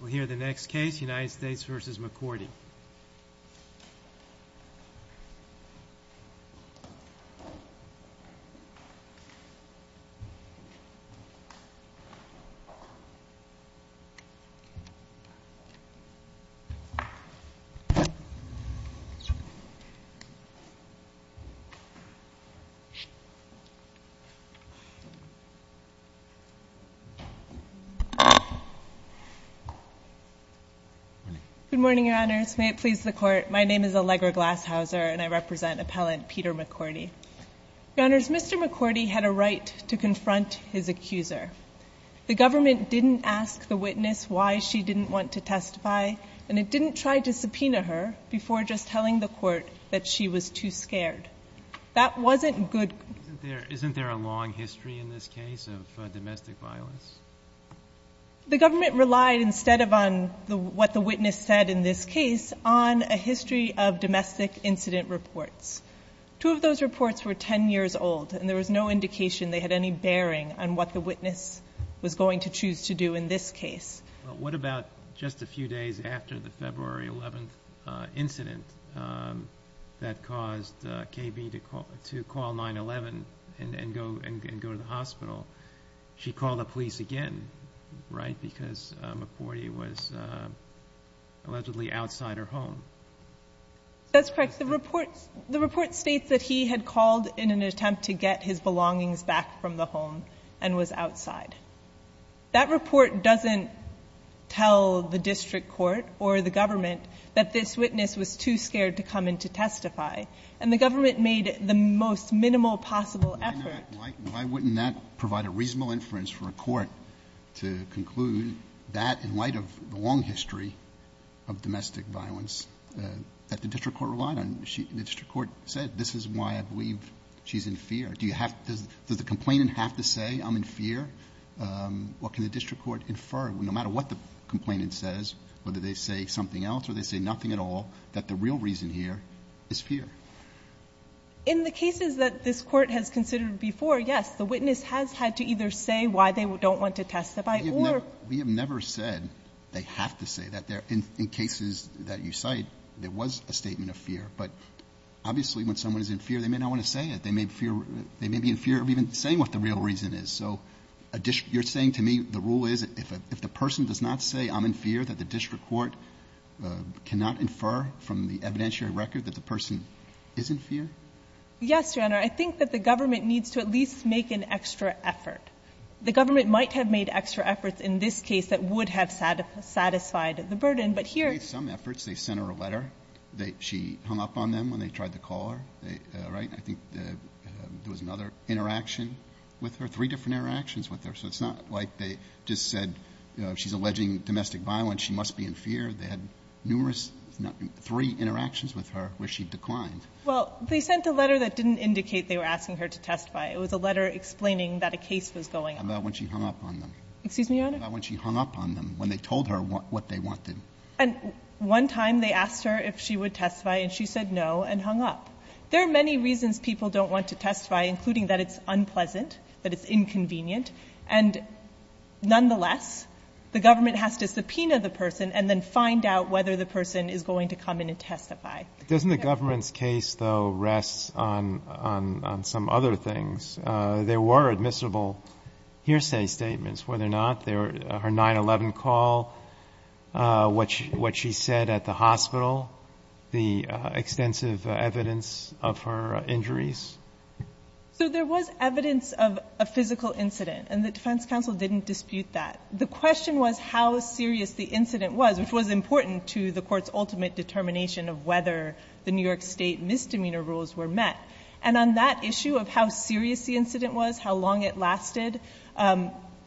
We'll hear the next case, United States v. McCourty. Good morning, Your Honors. May it please the Court, my name is Allegra Glashauser, and I represent appellant Peter McCourty. Your Honors, Mr. McCourty had a right to confront his accuser. The government didn't ask the witness why she didn't want to testify, and it didn't try to subpoena her before just telling the Court that she was too scared. That wasn't good... Isn't there a long history in this case of domestic violence? The government relied, instead of on what the witness said in this case, on a history of domestic incident reports. Two of those reports were 10 years old, and there was no indication they had any bearing on what the witness was going to choose to do in this case. What about just a few days after the February 11th incident that caused KB to call 911 and go to the hospital? She called the police again, right, because McCourty was allegedly outside her home. That's correct. The report states that he had called in an attempt to get his belongings back from the home and was outside. That report doesn't tell the district court or the government that this witness was too scared to come in to testify, and the government made the most minimal possible effort... to provide a reasonable inference for a court to conclude that in light of the long history of domestic violence that the district court relied on. The district court said, this is why I believe she's in fear. Does the complainant have to say, I'm in fear? What can the district court infer, no matter what the complainant says, whether they say something else or they say nothing at all, that the real reason here is fear? In the cases that this court has considered before, yes, the witness has had to either say why they don't want to testify or... We have never said they have to say that. In cases that you cite, there was a statement of fear. But obviously, when someone is in fear, they may not want to say it. They may be in fear of even saying what the real reason is. So you're saying to me the rule is if the person does not say, I'm in fear, that the district court cannot infer from the evidentiary record that the person is in fear? Yes, Your Honor. I think that the government needs to at least make an extra effort. The government might have made extra efforts in this case that would have satisfied the burden, but here... They made some efforts. They sent her a letter. She hung up on them when they tried to call her, right? I think there was another interaction with her, three different interactions with her. So it's not like they just said she's alleging domestic violence, she must be in fear. They had numerous, three interactions with her where she declined. Well, they sent a letter that didn't indicate they were asking her to testify. It was a letter explaining that a case was going on. How about when she hung up on them? Excuse me, Your Honor? How about when she hung up on them, when they told her what they wanted? And one time they asked her if she would testify, and she said no and hung up. There are many reasons people don't want to testify, including that it's unpleasant, that it's inconvenient. And nonetheless, the government has to subpoena the person and then find out whether the person is going to come in and testify. Doesn't the government's case, though, rest on some other things? There were admissible hearsay statements, were there not? Her 9-11 call, what she said at the hospital, the extensive evidence of her injuries. So there was evidence of a physical incident, and the defense counsel didn't dispute that. The question was how serious the incident was, which was important to the court's ultimate determination of whether the New York State misdemeanor rules were met. And on that issue of how serious the incident was, how long it lasted,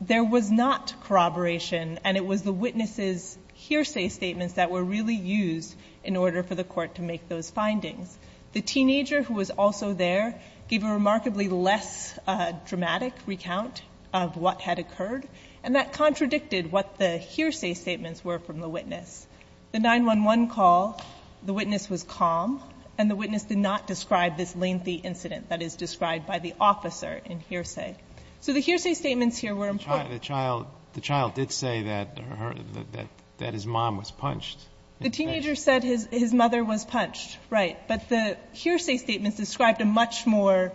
there was not corroboration, and it was the witness's hearsay statements that were really used in order for the court to make those findings. The teenager who was also there gave a remarkably less dramatic recount of what had occurred, and that contradicted what the hearsay statements were from the witness. The 9-11 call, the witness was calm, and the witness did not describe this lengthy incident that is described by the officer in hearsay. So the hearsay statements here were important. The child did say that her, that his mom was punched. The teenager said his mother was punched, right. But the hearsay statements described a much more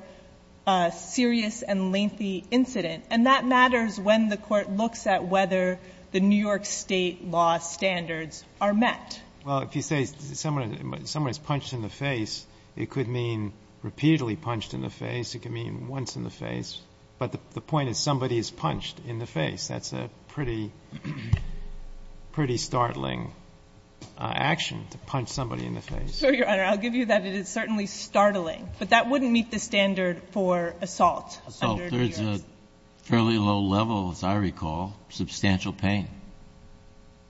serious and lengthy incident, and that matters when the court looks at whether the New York State law standards are met. Breyer. Well, if you say someone is punched in the face, it could mean repeatedly punched in the face, it could mean once in the face. But the point is somebody is punched in the face. That's a pretty, pretty startling action, to punch somebody in the face. So, Your Honor, I'll give you that. It is certainly startling. But that wouldn't meet the standard for assault. Assault is a fairly low level, as I recall. Substantial pain.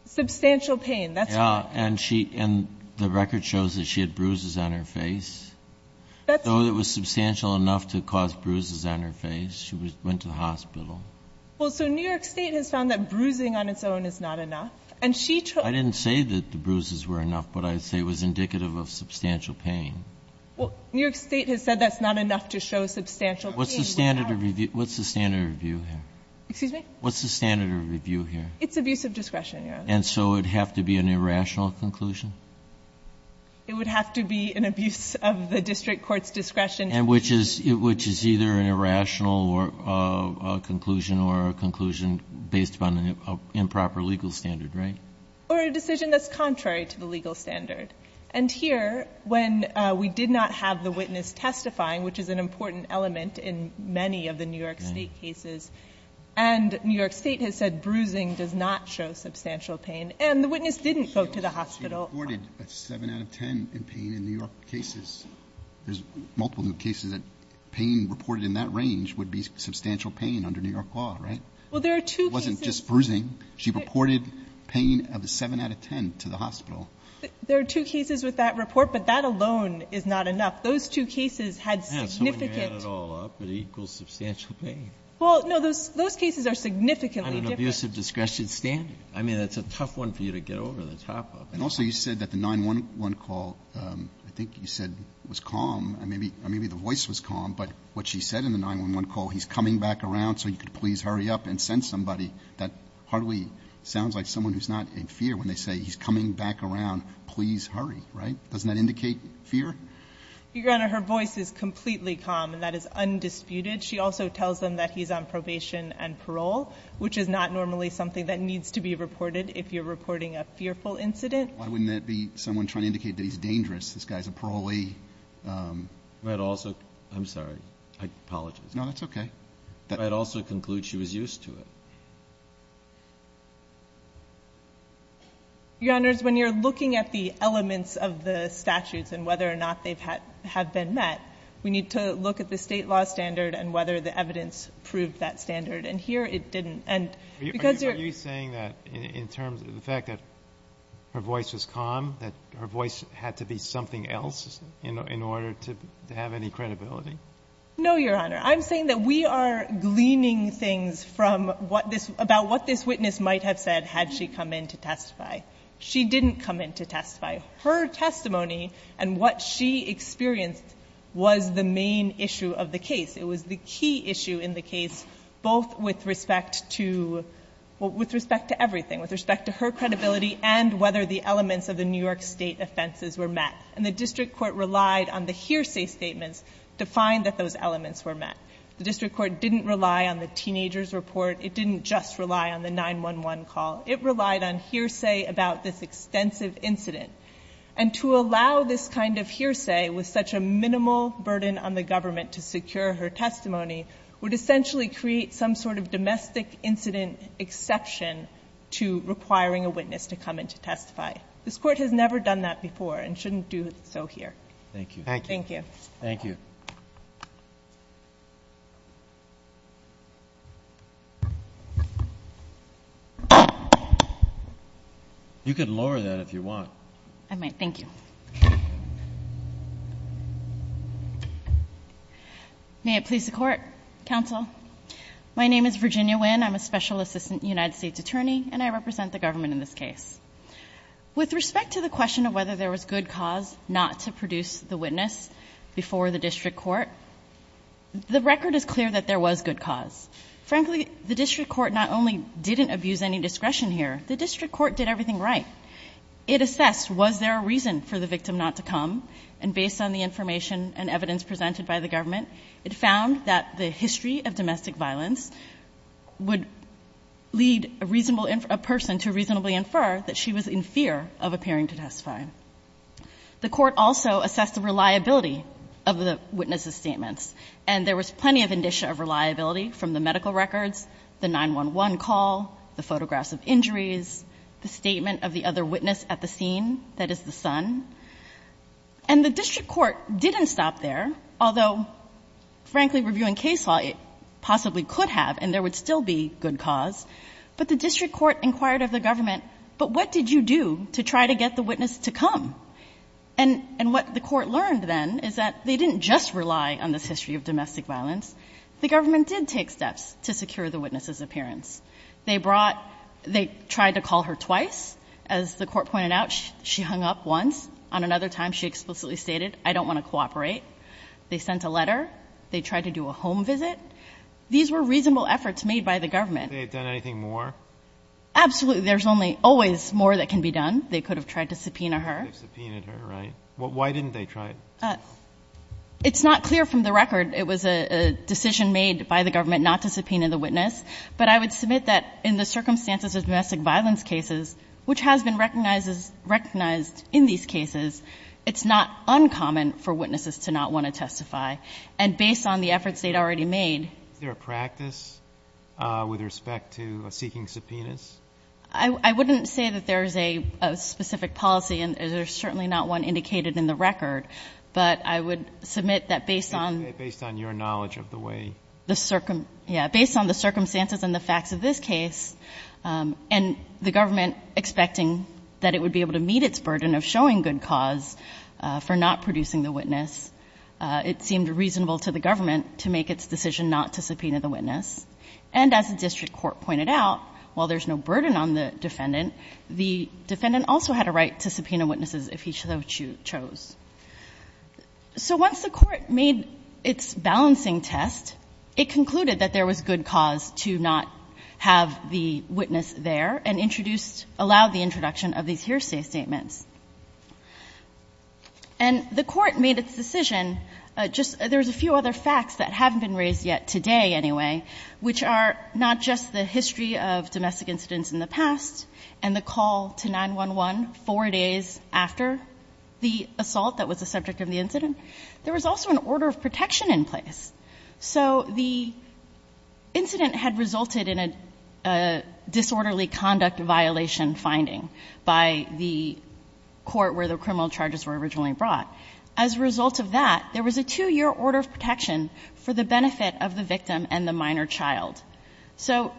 Substantial pain, that's right. Yeah. And she, and the record shows that she had bruises on her face. That's true. Though it was substantial enough to cause bruises on her face. She went to the hospital. Well, so New York State has found that bruising on its own is not enough. And she told. I didn't say that the bruises were enough, but I'd say it was indicative of substantial pain. Well, New York State has said that's not enough to show substantial pain. What's the standard of review here? Excuse me? What's the standard of review here? It's abuse of discretion, Your Honor. And so it would have to be an irrational conclusion? It would have to be an abuse of the district court's discretion. Which is either an irrational conclusion or a conclusion based upon an improper legal standard, right? Or a decision that's contrary to the legal standard. And here, when we did not have the witness testifying, which is an important element in many of the New York State cases. And New York State has said bruising does not show substantial pain. And the witness didn't go to the hospital. She reported a 7 out of 10 in pain in New York cases. There's multiple cases that pain reported in that range would be substantial pain under New York law, right? Well, there are two cases. It wasn't just bruising. She reported pain of a 7 out of 10 to the hospital. There are two cases with that report, but that alone is not enough. Those two cases had significant. So when you add it all up, it equals substantial pain. Well, no. Those cases are significantly different. On an abuse of discretion standard. I mean, that's a tough one for you to get over the top of. And also you said that the 911 call, I think you said was calm. Maybe the voice was calm, but what she said in the 911 call, he's coming back around, so you could please hurry up and send somebody. That hardly sounds like someone who's not in fear when they say he's coming back around, please hurry, right? Doesn't that indicate fear? Your Honor, her voice is completely calm and that is undisputed. She also tells them that he's on probation and parole, which is not normally something that needs to be reported if you're reporting a fearful incident. Why wouldn't that be someone trying to indicate that he's dangerous? This guy's a parolee. I'm sorry. I apologize. No, that's okay. I'd also conclude she was used to it. Your Honors, when you're looking at the elements of the statutes and whether or not they have been met, we need to look at the State law standard and whether the evidence proved that standard. And here it didn't. And because you're – Are you saying that in terms of the fact that her voice was calm, that her voice had to be something else in order to have any credibility? No, Your Honor. I'm saying that we are gleaning things from what this – about what this witness She didn't come in to testify. Her testimony and what she experienced was the main issue of the case. It was the key issue in the case, both with respect to – with respect to everything, with respect to her credibility and whether the elements of the New York State offenses were met. And the District Court relied on the hearsay statements to find that those elements were met. The District Court didn't rely on the teenager's report. It didn't just rely on the 911 call. It relied on hearsay about this extensive incident. And to allow this kind of hearsay with such a minimal burden on the government to secure her testimony would essentially create some sort of domestic incident exception to requiring a witness to come in to testify. This Court has never done that before and shouldn't do so here. Thank you. Thank you. Thank you. Thank you. You can lower that if you want. I might. Thank you. May it please the Court. Counsel. My name is Virginia Nguyen. I'm a Special Assistant United States Attorney, and I represent the government in this case. With respect to the question of whether there was good cause not to produce the witness before the District Court, the record is clear that there was good cause. Frankly, the District Court not only didn't abuse any discretion here, the District Court did everything right. It assessed was there a reason for the victim not to come, and based on the information and evidence presented by the government, it found that the history of domestic violence would lead a reasonable person to reasonably infer that she was in fear of appearing to testify. The Court also assessed the reliability of the witness's statements, and there was plenty of indicia of reliability from the medical records, the 911 call, the photographs of injuries, the statement of the other witness at the scene, that is the son. And the District Court didn't stop there, although, frankly, reviewing case law, it possibly could have, and there would still be good cause. But the District Court inquired of the government, but what did you do to try to get the witness to come? And what the Court learned then is that they didn't just rely on this history of domestic violence. The government did take steps to secure the witness's appearance. They brought, they tried to call her twice. As the Court pointed out, she hung up once. On another time, she explicitly stated, I don't want to cooperate. They sent a letter. They tried to do a home visit. These were reasonable efforts made by the government. They have done anything more? Absolutely. There's only always more that can be done. They could have tried to subpoena her. Subpoenaed her, right. Why didn't they try it? It's not clear from the record. It was a decision made by the government not to subpoena the witness. But I would submit that in the circumstances of domestic violence cases, which has been recognized in these cases, it's not uncommon for witnesses to not want to testify. And based on the efforts they'd already made. Is there a practice with respect to seeking subpoenas? I wouldn't say that there's a specific policy, and there's certainly not one indicated in the record. But I would submit that based on. Based on your knowledge of the way. Yeah. Based on the circumstances and the facts of this case, and the government expecting that it would be able to meet its burden of showing good cause for not producing the witness, it seemed reasonable to the government to make its decision not to subpoena the witness. And as the district court pointed out, while there's no burden on the defendant, the defendant also had a right to subpoena witnesses if he so chose. So once the court made its balancing test, it concluded that there was good cause to not have the witness there, and introduced, allowed the introduction of these hearsay statements. And the court made its decision. There's a few other facts that haven't been raised yet today anyway, which are not just the history of domestic incidents in the past, and the call to 9-1-1 four days after the assault that was the subject of the incident. There was also an order of protection in place. So the incident had resulted in a disorderly conduct violation finding by the court where the criminal charges were originally brought. As a result of that, there was a two-year order of protection for the benefit of the victim and the minor child. So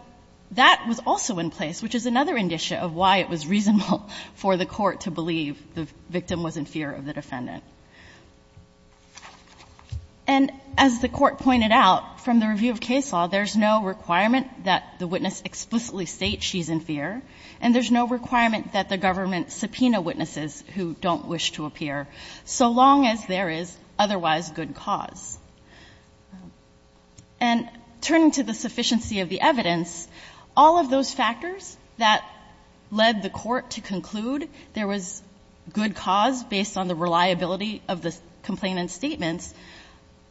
that was also in place, which is another indicia of why it was reasonable for the court to believe the victim was in fear of the defendant. And as the court pointed out, from the review of case law, there's no requirement that the witness explicitly state she's in fear, and there's no requirement that the government subpoena witnesses who don't wish to appear, so long as there is otherwise good cause. And turning to the sufficiency of the evidence, all of those factors that led the court to conclude there was good cause based on the reliability of the complainant's statements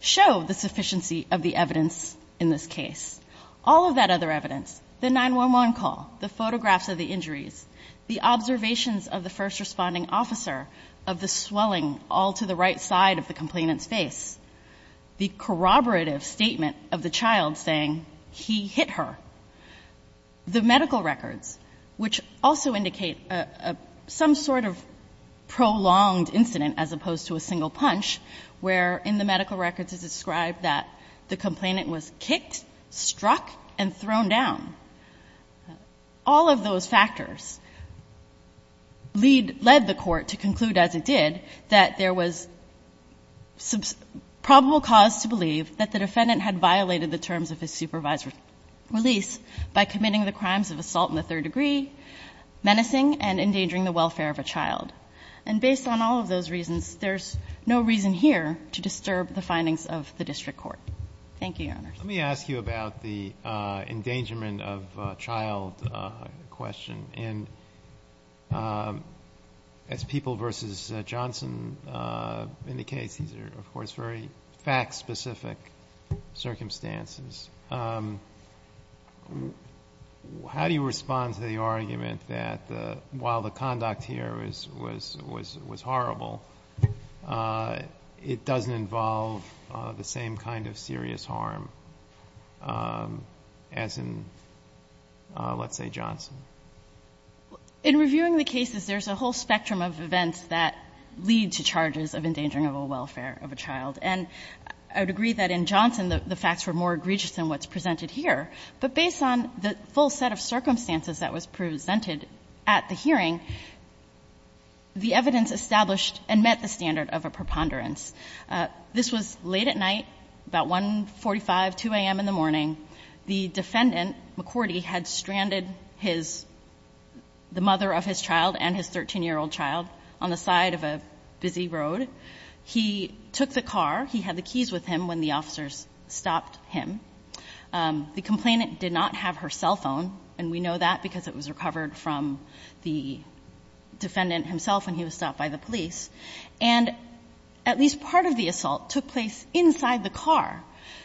show the sufficiency of the evidence in this case. All of that other evidence, the 9-1-1 call, the photographs of the injuries, the observations of the first responding officer, of the swelling all to the right side of the complainant's face, the corroborative statement of the child saying, he hit her, the medical records, which also indicate some sort of prolonged incident as opposed to a single punch where in the medical records it's described that the complainant was kicked, struck, and thrown down. All of those factors lead the court to conclude, as it did, that there was probable cause to believe that the defendant had violated the terms of his supervised release by committing the crimes of assault in the third degree, menacing, and endangering the welfare of a child. And based on all of those reasons, there's no reason here to disturb the findings of the district court. Thank you, Your Honors. Let me ask you about the endangerment of child question. And as People v. Johnson indicates, these are, of course, very fact-specific circumstances. How do you respond to the argument that while the conduct here was horrible, it doesn't involve the same kind of serious harm as in, let's say, Johnson? In reviewing the cases, there's a whole spectrum of events that lead to charges of endangering of a welfare of a child. And I would agree that in Johnson the facts were more egregious than what's presented here. But based on the full set of circumstances that was presented at the hearing, the evidence established and met the standard of a preponderance. This was late at night, about 1.45, 2 a.m. in the morning. The defendant, McCordy, had stranded his — the mother of his child and his 13-year-old child on the side of a busy road. He took the car. He had the keys with him when the officers stopped him. The complainant did not have her cell phone, and we know that because it was recovered from the defendant himself when he was stopped by the police. And at least part of the assault took place inside the car.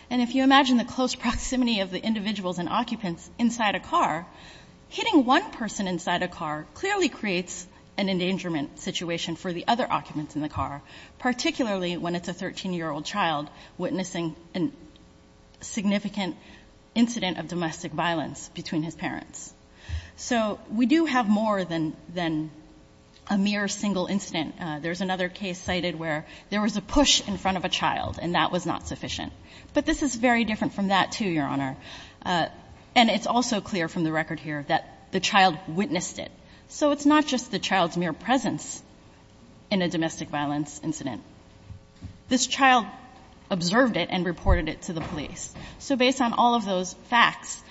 And if you imagine the close proximity of the individuals and occupants inside a car, hitting one person inside a car clearly creates an endangerment situation for the other occupants in the car, particularly when it's a 13-year-old child witnessing a significant incident of domestic violence between his parents. So we do have more than a mere single incident. There's another case cited where there was a push in front of a child and that was not sufficient. But this is very different from that, too, Your Honor. And it's also clear from the record here that the child witnessed it. So it's not just the child's mere presence in a domestic violence incident. This child observed it and reported it to the police. So based on all of those facts,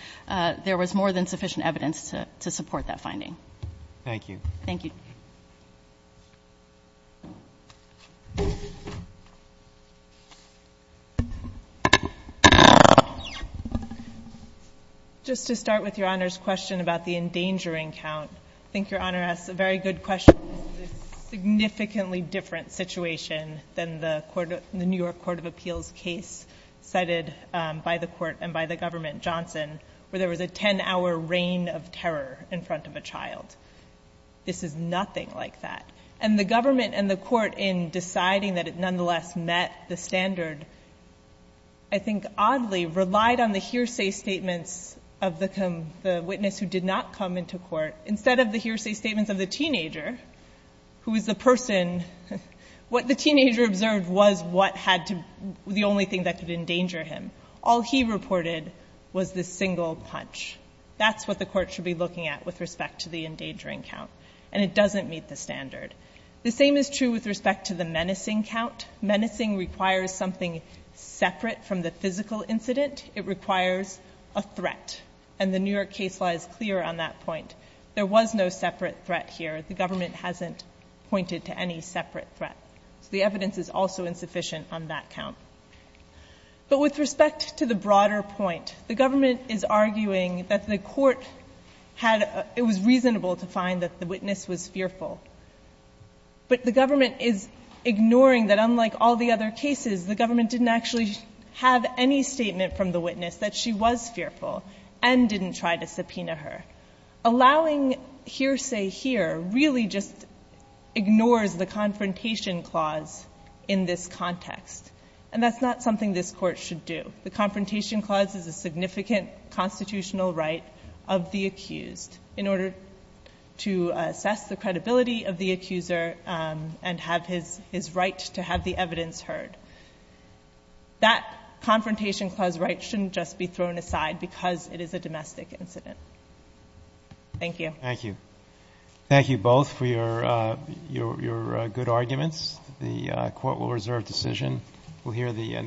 there was more than sufficient evidence to support that finding. Thank you. Thank you. Just to start with Your Honor's question about the endangering count, I think Your Honor asked a very good question. It's a significantly different situation than the New York Court of Appeals case cited by the court and by the government, Johnson, where there was a 10-hour reign of terror in front of a child. This is nothing like that. And the government and the court in deciding that it nonetheless met the standard I think oddly relied on the hearsay statements of the witness who did not come into court instead of the hearsay statements of the teenager, who is the person, what the teenager observed was what had to, the only thing that could endanger him. All he reported was the single punch. That's what the court should be looking at with respect to the endangering count. And it doesn't meet the standard. The same is true with respect to the menacing count. Menacing requires something separate from the physical incident. It requires a threat. And the New York case law is clear on that point. There was no separate threat here. The government hasn't pointed to any separate threat. So the evidence is also insufficient on that count. But with respect to the broader point, the government is arguing that the court had, it was reasonable to find that the witness was fearful. But the government is ignoring that unlike all the other cases, the government didn't actually have any statement from the witness that she was fearful and didn't try to subpoena her. Allowing hearsay here really just ignores the confrontation clause in this context. And that's not something this court should do. The confrontation clause is a significant constitutional right of the accused in order to assess the credibility of the accuser and have his right to have the evidence heard. That confrontation clause right shouldn't just be thrown aside because it is a Thank you. Thank you. Thank you both for your good arguments. The court will reserve decision.